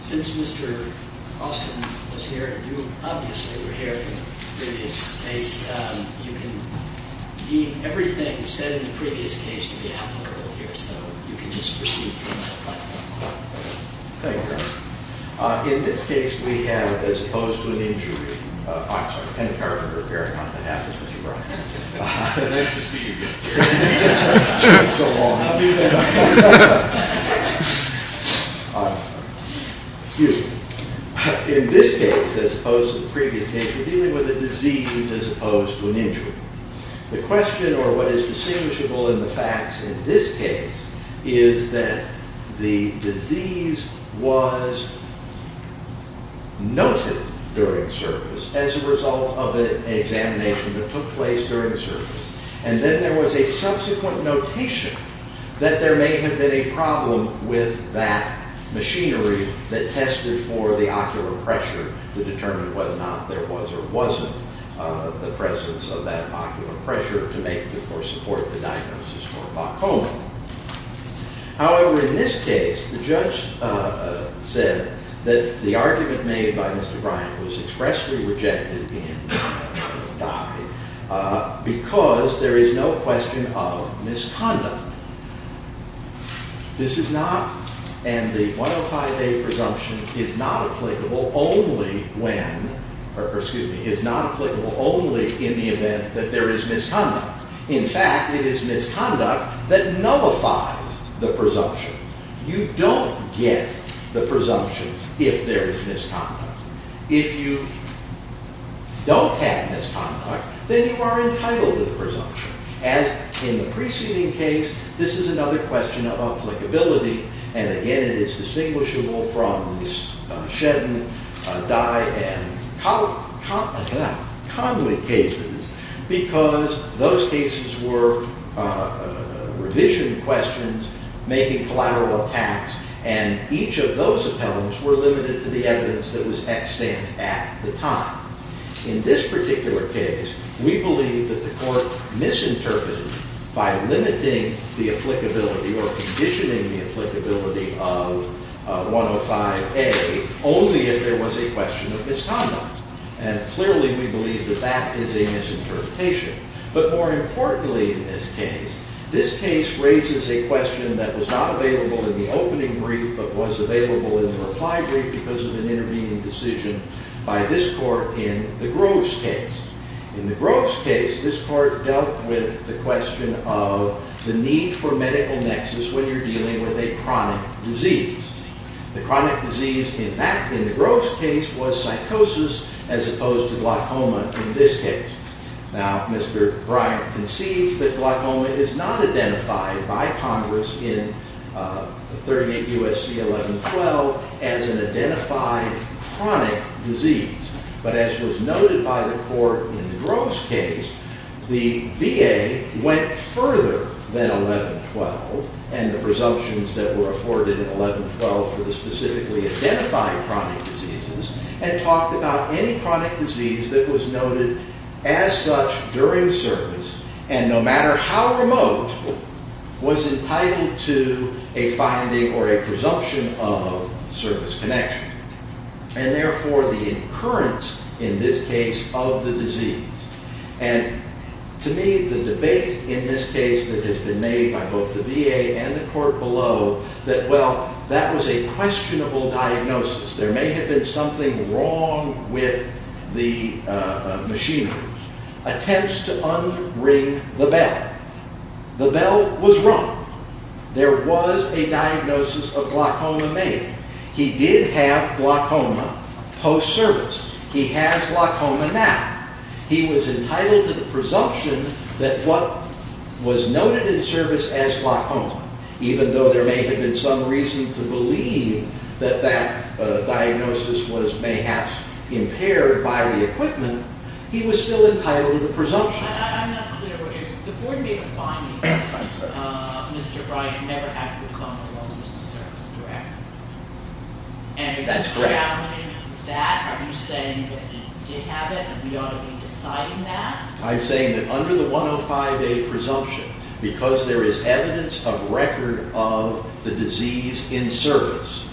Since Mr. Austin was here, and you obviously were here in the previous case, you can deem everything said in the previous case In this case, we have, as opposed to an injury, in this case, as opposed to the previous case, we're dealing with a disease as opposed to an injury. The question, or what is distinguishable in the facts in this case, is that the disease was noted during service as a result of an examination that took place during service. And then there was a subsequent notation that there may have been a problem with that machinery that tested for the ocular pressure to determine whether or not there was or wasn't the presence of that ocular pressure to make or support the diagnosis for glaucoma. However, in this case, the judge said that the argument made by Mr. Bryant was expressly rejected because there is no question of misconduct. This is not, and the 105A presumption is not applicable only when, or excuse me, is not applicable only in the event that there is misconduct. In fact, it is misconduct that nullifies the presumption. You don't get the presumption if there is misconduct. If you don't have misconduct, then you are entitled to the presumption. And in the preceding case, this is another question of applicability. And again, it is distinguishable from the Shedden, Dye, and Conley cases because those cases were revision questions making collateral attacks. And each of those appellants were limited to the evidence that was at stand at the time. In this particular case, we believe that the court misinterpreted by limiting the applicability or conditioning the applicability of 105A only if there was a question of misconduct. And clearly, we believe that that is a misinterpretation. But more importantly in this case, this case raises a question that was not available in the opening brief but was available in the reply brief because of an intervening decision by this court in the Groves case. In the Groves case, this court dealt with the question of the need for medical nexus when you're dealing with a chronic disease. The chronic disease in the Groves case was psychosis as opposed to glaucoma in this case. Now, Mr. Bryant concedes that glaucoma is not identified by Congress in 38 U.S.C. 1112 as an identified chronic disease. But as was noted by the court in the Groves case, the VA went further than 1112 and the presumptions that were afforded in 1112 for the specifically identified chronic diseases and talked about any chronic disease that was noted as such during service and no matter how remote was entitled to a finding or a presumption of service connection. And therefore, the occurrence in this case of the disease. And to me, the debate in this case that has been made by both the VA and the court below that, well, that was a questionable diagnosis. There may have been something wrong with the machinery. Attempts to unring the bell. The bell was rung. There was a diagnosis of glaucoma made. He did have glaucoma post-service. He has glaucoma now. He was entitled to the presumption that what was noted in service as glaucoma, even though there may have been some reason to believe that that diagnosis was mayhaps impaired by the equipment. He was still entitled to the presumption. I'm not clear what it is. The board made a finding that Mr. Bryant never had glaucoma post-service, correct? That's correct. And are you challenging that? Are you saying that he did have it and we ought to be deciding that? I'm saying that under the 105A presumption, because there is evidence of record of the disease in service,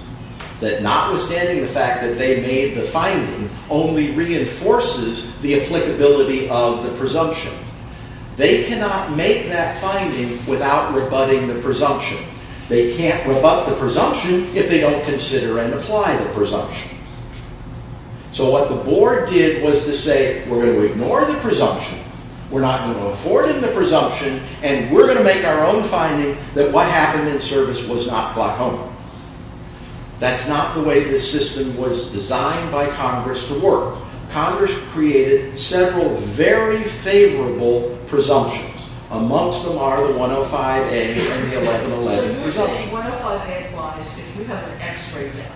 that notwithstanding the fact that they made the finding only reinforces the applicability of the presumption, they cannot make that finding without rebutting the presumption. They can't rebut the presumption if they don't consider and apply the presumption. So what the board did was to say, we're going to ignore the presumption, we're not going to afford him the presumption, and we're going to make our own finding that what happened in service was not glaucoma. That's not the way this system was designed by Congress to work. Congress created several very favorable presumptions. So you're saying 105A applies if you have an x-ray done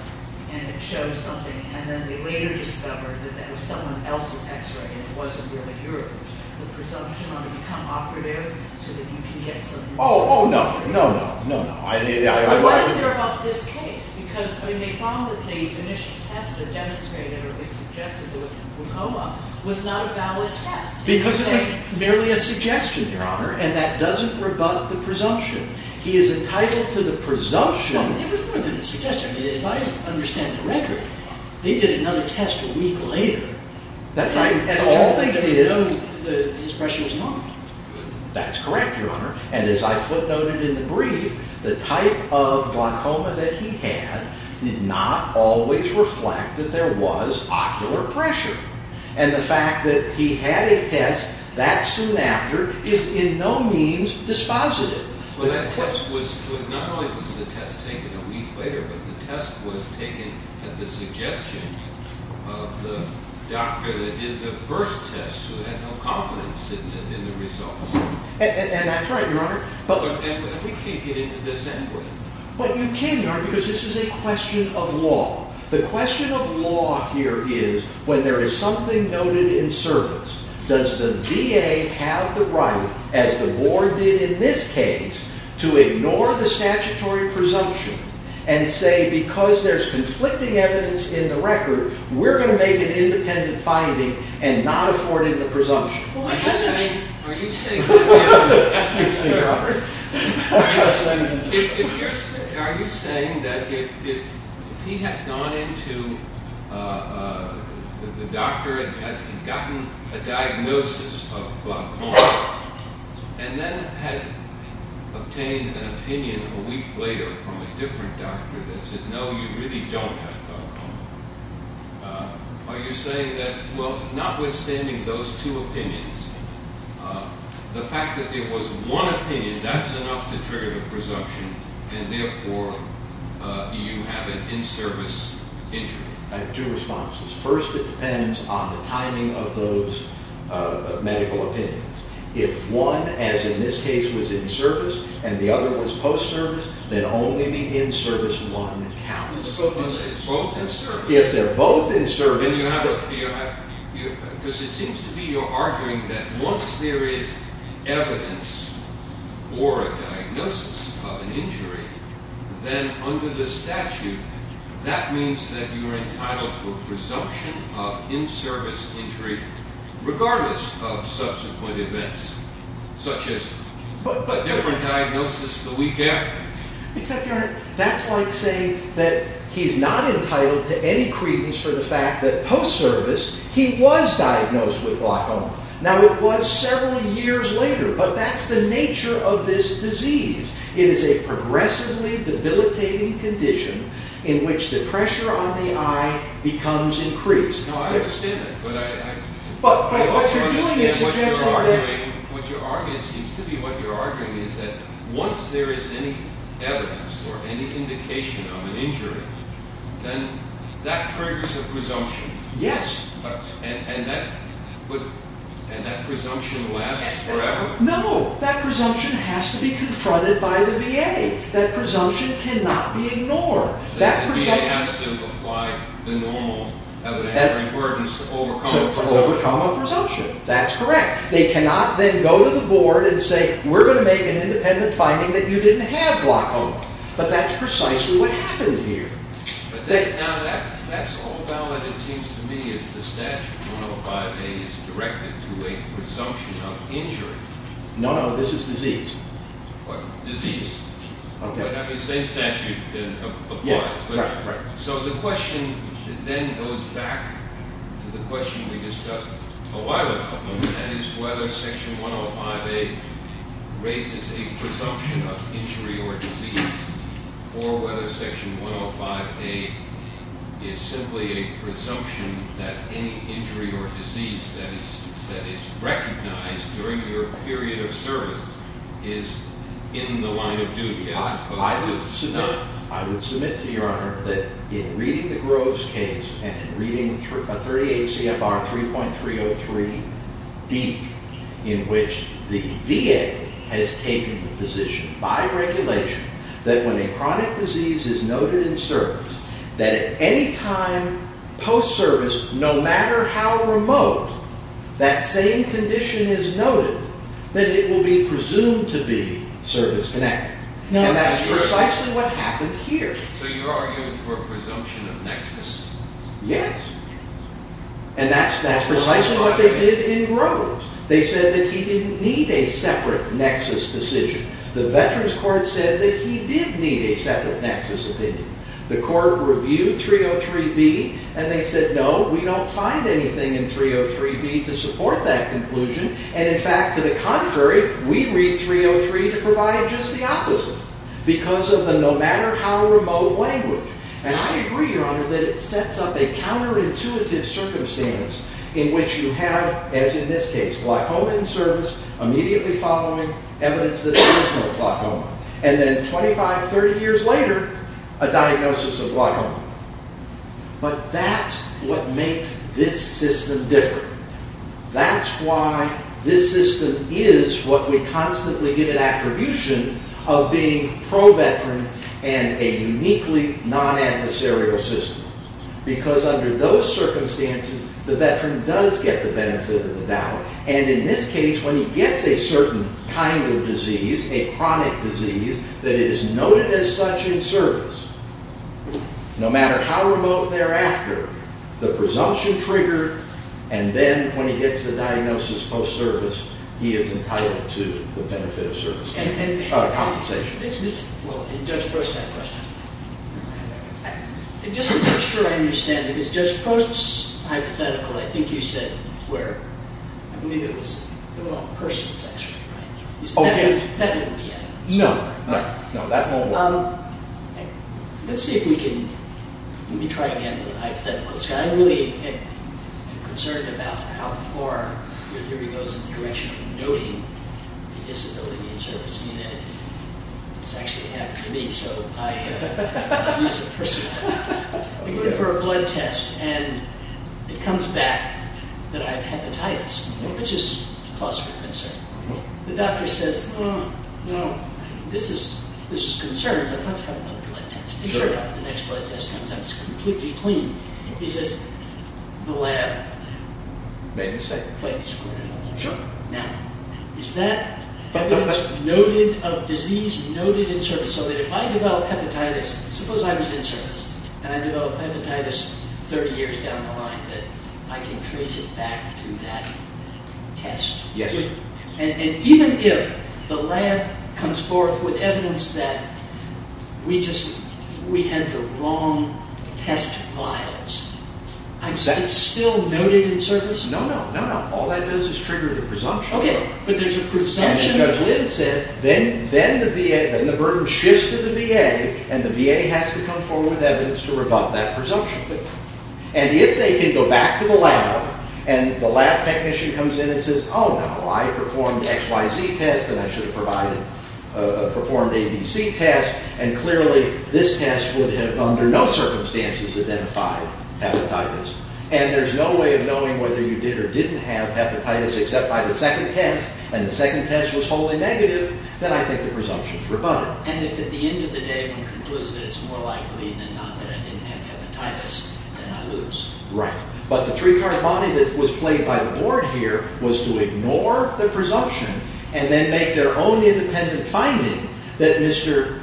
and it shows something and then they later discover that that was someone else's x-ray and it wasn't really yours. The presumption on the become operative so that you can get some results. No, no, no. So why is there about this case? Because they found that the initial test that demonstrated or they suggested there was glaucoma was not a valid test. Because it was merely a suggestion, Your Honor, and that doesn't rebut the presumption. He is entitled to the presumption. Well, it was more than a suggestion. If I understand the record, they did another test a week later. That's right. And all they did was note that his pressure was not. That's correct, Your Honor. And as I footnoted in the brief, the type of glaucoma that he had did not always reflect that there was ocular pressure. And the fact that he had a test that soon after is in no means dispositive. Not only was the test taken a week later, but the test was taken at the suggestion of the doctor that did the first test who had no confidence in the results. And that's right, Your Honor. But we can't get into this anyway. But you can, Your Honor, because this is a question of law. The question of law here is, when there is something noted in service, does the VA have the right, as the board did in this case, to ignore the statutory presumption and say, because there's conflicting evidence in the record, we're going to make an independent finding and not afford him the presumption? Are you saying that if he had gone into the doctor and had gotten a diagnosis of glaucoma and then had obtained an opinion a week later from a different doctor that said, no, you really don't have glaucoma, are you saying that, well, notwithstanding those two opinions, the fact that there was one opinion, that's enough to trigger the presumption and therefore you have an in-service injury? I have two responses. First, it depends on the timing of those medical opinions. If one, as in this case, was in service and the other was post-service, then only the in-service one counts. Both in service. If they're both in service. Because it seems to me you're arguing that once there is evidence or a diagnosis of an injury, then under the statute, that means that you're entitled to a presumption of in-service injury regardless of subsequent events, such as a different diagnosis the week after. That's like saying that he's not entitled to any credence for the fact that post-service he was diagnosed with glaucoma. Now, it was several years later, but that's the nature of this disease. It is a progressively debilitating condition in which the pressure on the eye becomes increased. I understand that. But what you're arguing is that once there is any evidence or any indication of an injury, then that triggers a presumption. Yes. And that presumption lasts forever? No, that presumption has to be confronted by the VA. That presumption cannot be ignored. The VA has to apply the normal evidence to overcome a presumption. To overcome a presumption. That's correct. They cannot then go to the board and say, we're going to make an independent finding that you didn't have glaucoma. But that's precisely what happened here. Now, that's all valid, it seems to me, if the statute 105A is directed to a presumption of injury. No, no. This is disease. What? Disease. Okay. The same statute applies. Yeah, right. So the question then goes back to the question we discussed a while ago, and that is whether Section 105A raises a presumption of injury or disease, or whether Section 105A is simply a presumption that any injury or disease that is recognized during your period of service is in the line of duty as opposed to a presumption. I would submit to Your Honor that in reading the Groves case and reading a 38 CFR 3.303D, in which the VA has taken the position by regulation that when a chronic disease is noted in service, that at any time post-service, no matter how remote, that same condition is noted, then it will be presumed to be service-connected. And that's precisely what happened here. So you're arguing for a presumption of nexus? Yes. And that's precisely what they did in Groves. They said that he didn't need a separate nexus decision. The Veterans Court said that he did need a separate nexus opinion. The court reviewed 303B, and they said, no, we don't find anything in 303B to support that conclusion. And in fact, to the contrary, we read 303 to provide just the opposite, because of the no matter how remote language. And I agree, Your Honor, that it sets up a counterintuitive circumstance in which you have, as in this case, glaucoma in service, immediately following evidence that there is no glaucoma. And then 25, 30 years later, a diagnosis of glaucoma. But that's what makes this system different. That's why this system is what we constantly give an attribution of being pro-Veteran and a uniquely non-adversarial system. Because under those circumstances, the Veteran does get the benefit of the doubt. And in this case, when he gets a certain kind of disease, a chronic disease, that it is noted as such in service, no matter how remote thereafter, the presumption triggered, and then when he gets the diagnosis post-service, he is entitled to the benefit of service, compensation. Well, Judge Post had a question. Just to make sure I understand, because Judge Post's hypothetical, I think you said where? I believe it was the one on persons, actually, right? Oh, yes. That wouldn't be it. No, no. No, that won't work. Let's see if we can, let me try again with hypotheticals. I'm really concerned about how far your theory goes in the direction of noting the disability in service. You know, it's actually happened to me, so I use it personally. I go in for a blood test, and it comes back that I have hepatitis, which is cause for concern. The doctor says, no, this is concern, but let's have another blood test. Sure. The next blood test comes out, it's completely clean. He says, the lab. Maybe so. Maybe so. Sure. Now, is that evidence noted of disease noted in service, and I developed hepatitis 30 years down the line, that I can trace it back to that test? Yes, sir. And even if the lab comes forth with evidence that we just, we had the wrong test files, it's still noted in service? No, no. No, no. All that does is trigger the presumption. Okay, but there's a presumption. And Judge Lynn said, then the burden shifts to the VA, and the VA has to come forward with evidence to rebut that presumption. And if they can go back to the lab, and the lab technician comes in and says, oh, no, I performed XYZ test, and I should have performed ABC test, and clearly this test would have under no circumstances identified hepatitis, and there's no way of knowing whether you did or didn't have hepatitis, except by the second test, and the second test was wholly negative, then I think the presumption is rebutted. And if at the end of the day one concludes that it's more likely than not that I didn't have hepatitis, then I lose. Right. But the three-card body that was played by the board here was to ignore the presumption and then make their own independent finding that Mr.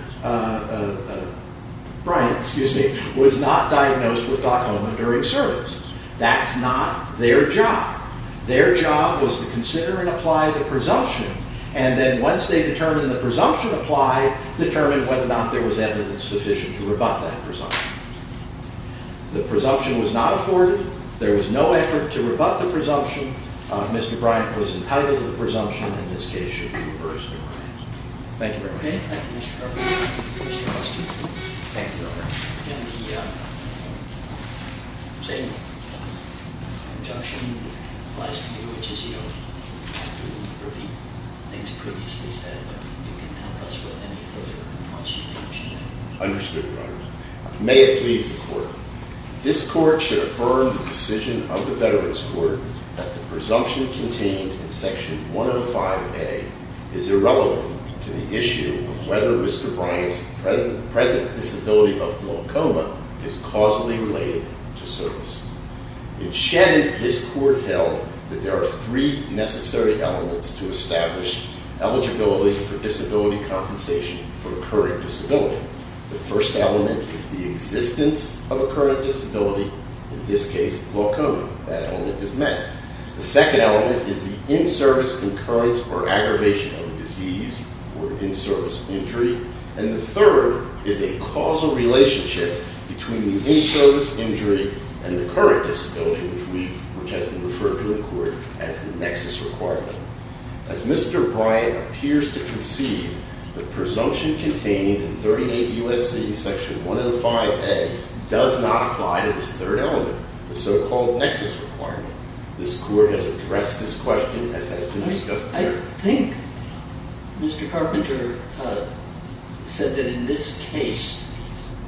Bryant, excuse me, was not diagnosed with glaucoma during service. That's not their job. Their job was to consider and apply the presumption, and then once they determined the presumption applied, determine whether or not there was evidence sufficient to rebut that presumption. The presumption was not afforded. There was no effort to rebut the presumption. Mr. Bryant was entitled to the presumption, and this case should be reversed. Thank you very much. Okay. Thank you, Mr. Carpenter. Thank you, Your Honor. Again, the same injunction applies to you, which is you have to repeat things previously said. You can help us with any further consternation. Understood, Your Honor. May it please the Court. This Court should affirm the decision of the Veterans Court that the presumption contained in Section 105A is irrelevant to the issue of whether Mr. Bryant's present disability of glaucoma is causally related to service. In Shannon, this Court held that there are three necessary elements to establish eligibility for disability compensation for a current disability. The first element is the existence of a current disability, in this case glaucoma. That element is met. The second element is the in-service occurrence or aggravation of a disease or in-service injury. And the third is a causal relationship between the in-service injury and the current disability, which has been referred to in court as the nexus requirement. As Mr. Bryant appears to concede, the presumption contained in 38 U.S.C. Section 105A does not apply to this third element, the so-called nexus requirement. This Court has addressed this question as has been discussed here. I think Mr. Carpenter said that in this case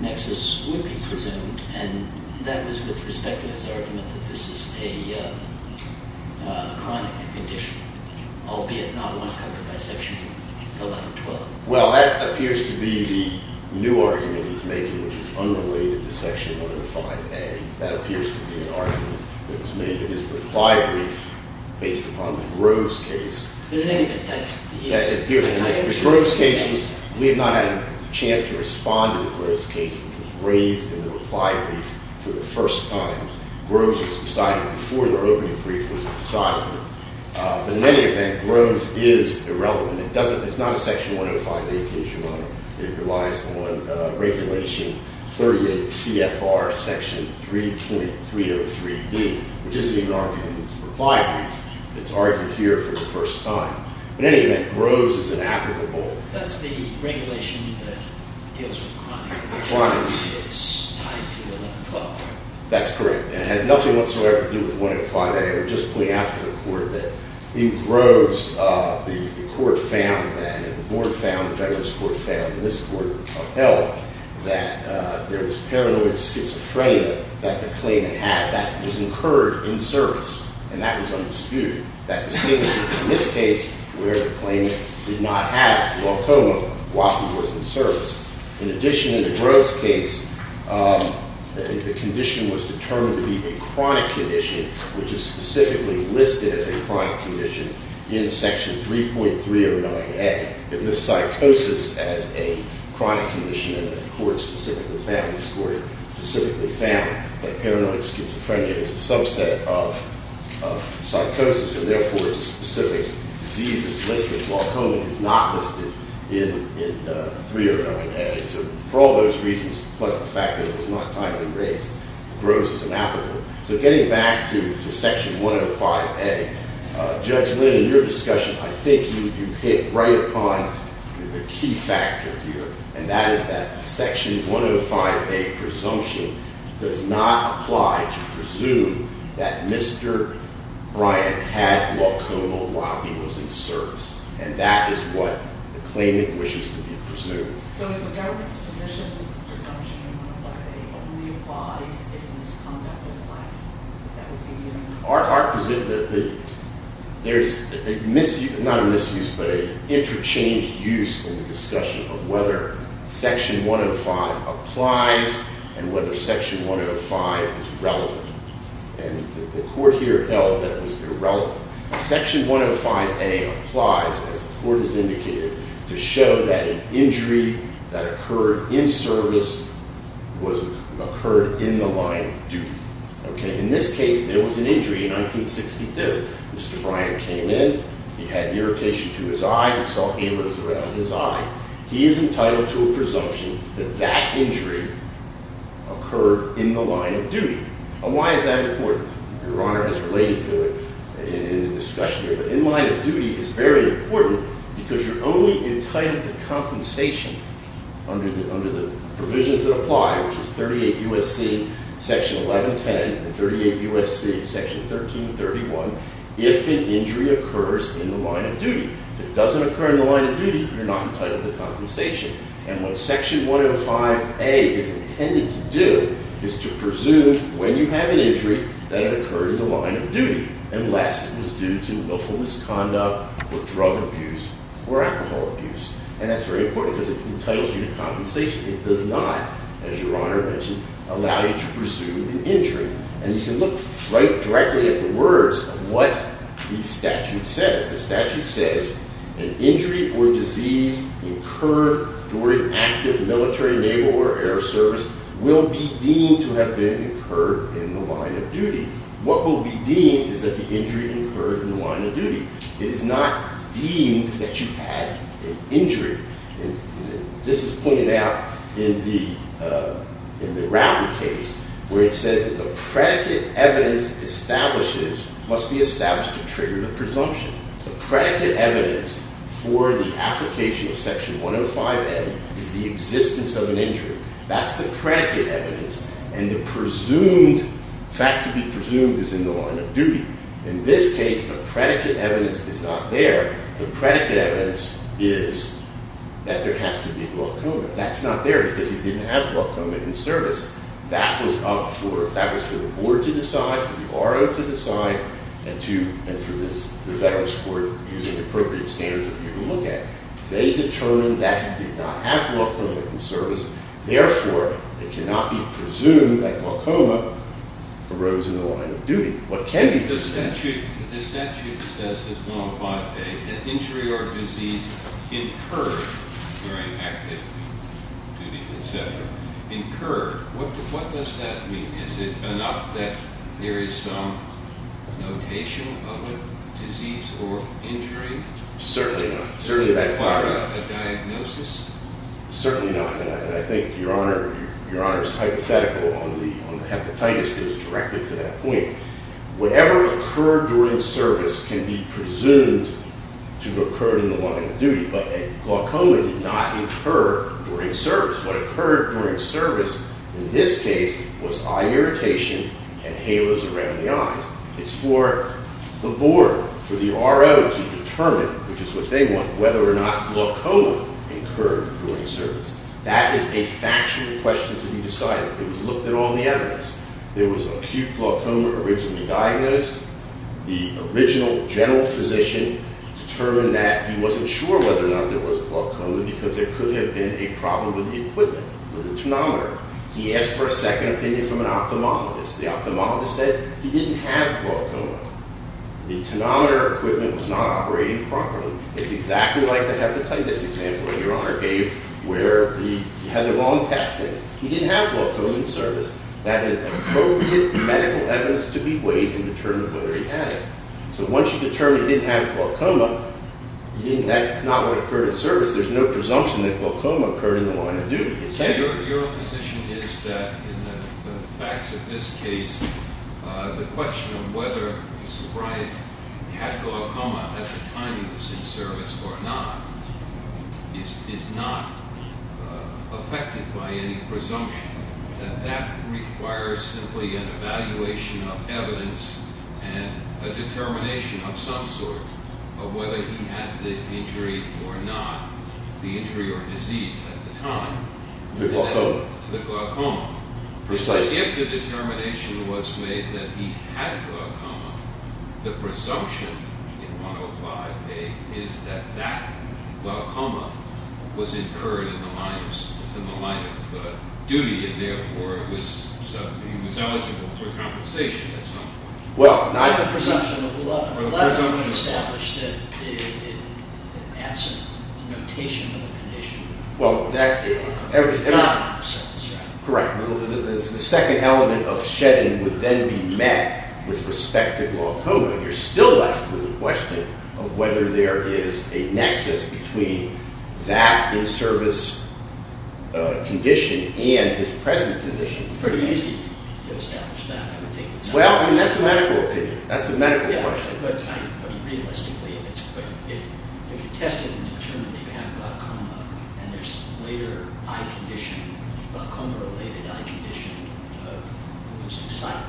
nexus would be presumed, and that was with respect to his argument that this is a chronic condition, albeit not one covered by Section 1112. Well, that appears to be the new argument he's making, which is unrelated to Section 105A. That appears to be an argument that was made in his reply brief based upon the Groves case. In any event, that's the case. We have not had a chance to respond to the Groves case, which was raised in the reply brief for the first time. Groves was decided before the opening brief was decided. But in any event, Groves is irrelevant. It's not a Section 105A case, Your Honor. It relies on Regulation 38 CFR Section 3.303B, which is the argument in his reply brief. It's argued here for the first time. In any event, Groves is inapplicable. That's the regulation that deals with chronic conditions. It's tied to 1112, right? That's correct. It has nothing whatsoever to do with 105A. I would just point out to the Court that in Groves, the Court found that, and the Board found, the Federalist Court found, and this Court upheld, that there was paranoid schizophrenia that the claimant had. That was incurred in service. And that was undisputed. That distinguishes it from this case, where the claimant did not have glaucoma while he was in service. In addition, in the Groves case, the condition was determined to be a chronic condition, which is specifically listed as a chronic condition in Section 3.309A. It lists psychosis as a chronic condition. And the Court specifically found that paranoid schizophrenia is a subset of psychosis, and therefore it's a specific disease that's listed. Glaucoma is not listed in 309A. So for all those reasons, plus the fact that it was not timely raised, Groves is inapplicable. So getting back to Section 105A, Judge Lynn, in your discussion, I think you hit right upon the key factor here, and that is that Section 105A presumption does not apply to presume that Mr. Bryant had glaucoma while he was in service. And that is what the claimant wishes to be presumed. So if the government's position is presumption of glaucoma only applies if misconduct was planned, that would be the argument? There's not a misuse, but an interchanged use in the discussion of whether Section 105 applies and whether Section 105 is relevant. Section 105A applies, as the Court has indicated, to show that an injury that occurred in service occurred in the line of duty. In this case, there was an injury in 1962. Mr. Bryant came in. He had irritation to his eye. He saw halos around his eye. He is entitled to a presumption that that injury occurred in the line of duty. And why is that important? Your Honor has related to it in the discussion here. But in line of duty is very important because you're only entitled to compensation under the provisions that apply, which is 38 U.S.C. Section 1110 and 38 U.S.C. Section 1331, if an injury occurs in the line of duty. If it doesn't occur in the line of duty, you're not entitled to compensation. And what Section 105A is intended to do is to presume when you have an injury that it occurred in the line of duty, unless it was due to willful misconduct or drug abuse or alcohol abuse. And that's very important because it entitles you to compensation. It does not, as Your Honor mentioned, allow you to presume an injury. And you can look directly at the words of what the statute says. The statute says, an injury or disease incurred during active military, naval, or air service will be deemed to have been incurred in the line of duty. What will be deemed is that the injury occurred in the line of duty. It is not deemed that you had an injury. This is pointed out in the Routen case, where it says that the predicate evidence establishes, must be established to trigger the presumption. The predicate evidence for the application of Section 105A is the existence of an injury. That's the predicate evidence. And the fact to be presumed is in the line of duty. In this case, the predicate evidence is not there. The predicate evidence is that there has to be glaucoma. That's not there because he didn't have glaucoma in service. That was up for the board to decide, for the R.O. to decide, and for the Veterans Court, using the appropriate standards of view, to look at. They determined that he did not have glaucoma in service. Therefore, it cannot be presumed that glaucoma arose in the line of duty. The statute says in 105A that injury or disease incurred during active duty, etc., incurred. What does that mean? Is it enough that there is some notation of a disease or injury? Certainly not. Certainly that's not enough. Is it part of a diagnosis? Certainly not. And I think Your Honor's hypothetical on the hepatitis is directly to that point. Whatever occurred during service can be presumed to have occurred in the line of duty, but glaucoma did not incur during service. What occurred during service in this case was eye irritation and halos around the eyes. It's for the board, for the R.O. to determine, which is what they want, whether or not glaucoma incurred during service. That is a factual question to be decided. It was looked at on the evidence. There was acute glaucoma originally diagnosed. The original general physician determined that he wasn't sure whether or not there was glaucoma because there could have been a problem with the equipment, with the tonometer. He asked for a second opinion from an ophthalmologist. The ophthalmologist said he didn't have glaucoma. The tonometer equipment was not operating properly. It's exactly like the hepatitis example that Your Honor gave where he had the wrong testing. He didn't have glaucoma in service. That is appropriate medical evidence to be weighed and determined whether he had it. So once you determine he didn't have glaucoma, that's not what occurred in service. There's no presumption that glaucoma occurred in the line of duty. Your position is that in the facts of this case, the question of whether Mr. Bryant had glaucoma at the time he was in service or not is not affected by any presumption. That requires simply an evaluation of evidence and a determination of some sort of whether he had the injury or not, the injury or disease at the time. The glaucoma. The glaucoma. Precisely. If the determination was made that he had glaucoma, the presumption in 105A is that that glaucoma was incurred in the line of duty and therefore he was eligible for compensation in some way. The presumption of 11. 11 would establish that it adds a notation of a condition. Well, that. Correct. The second element of shedding would then be met with respect to glaucoma. You're still left with the question of whether there is a nexus between that in-service condition and his present condition. It's pretty easy to establish that. Well, I mean, that's a medical opinion. That's a medical question. Realistically, if you test it and determine that you have glaucoma and there's later eye condition, glaucoma-related eye condition of losing sight,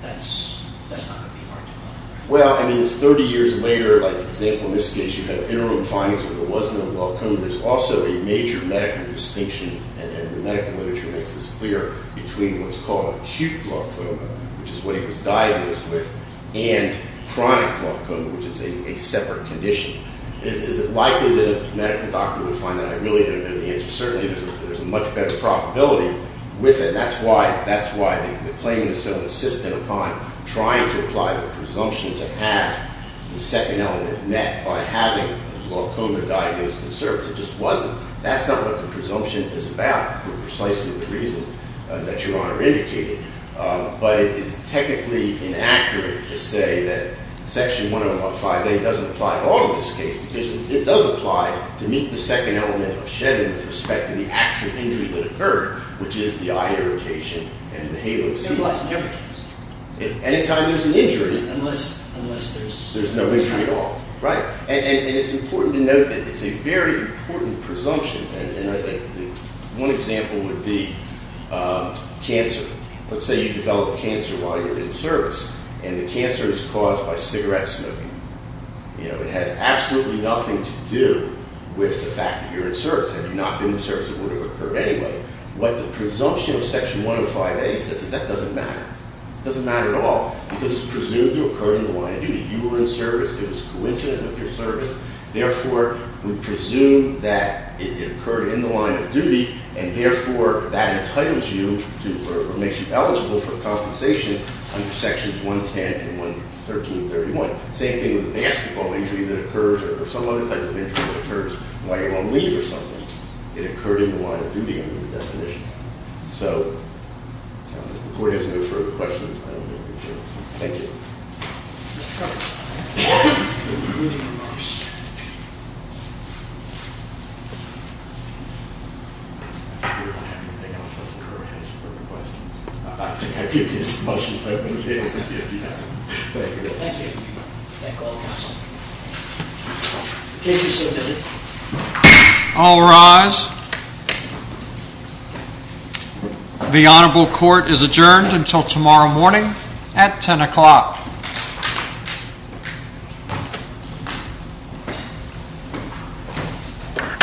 that's not going to be hard to find. Well, I mean, it's 30 years later. Like, for example, in this case, you have interim findings where there was no glaucoma. There's also a major medical distinction, and the medical literature makes this clear, between what's called acute glaucoma, which is what he was diagnosed with, and chronic glaucoma, which is a separate condition. Is it likely that a medical doctor would find that? I really don't know the answer. Certainly, there's a much better probability with it. That's why the claim is so insistent upon trying to apply the presumption to have the second element met by having glaucoma diagnosed in service. It just wasn't. That's not what the presumption is about for precisely the reason that Your Honor indicated. But it's technically inaccurate to say that Section 105A doesn't apply at all in this case, because it does apply to meet the second element of Shedden with respect to the actual injury that occurred, which is the eye irritation and the halo-C. It implies no injuries. Any time there's an injury. Unless there's… There's no injury at all. Right. And it's important to note that it's a very important presumption, and I think one example would be cancer. Let's say you develop cancer while you're in service, and the cancer is caused by cigarette smoking. You know, it has absolutely nothing to do with the fact that you're in service. Had you not been in service, it would have occurred anyway. What the presumption of Section 105A says is that doesn't matter. It doesn't matter at all, because it's presumed to occur in the line of duty. You were in service. It was coincident with your service. Therefore, we presume that it occurred in the line of duty, and therefore, that entitles you to or makes you eligible for compensation under Sections 110 and 1331. Same thing with a basketball injury that occurs or some other type of injury that occurs while you're on leave or something. It occurred in the line of duty under the definition. So if the Court has no further questions, I don't have anything else. Thank you. Thank you. All rise. The honorable Court is adjourned until tomorrow morning at 10 o'clock. Thank you.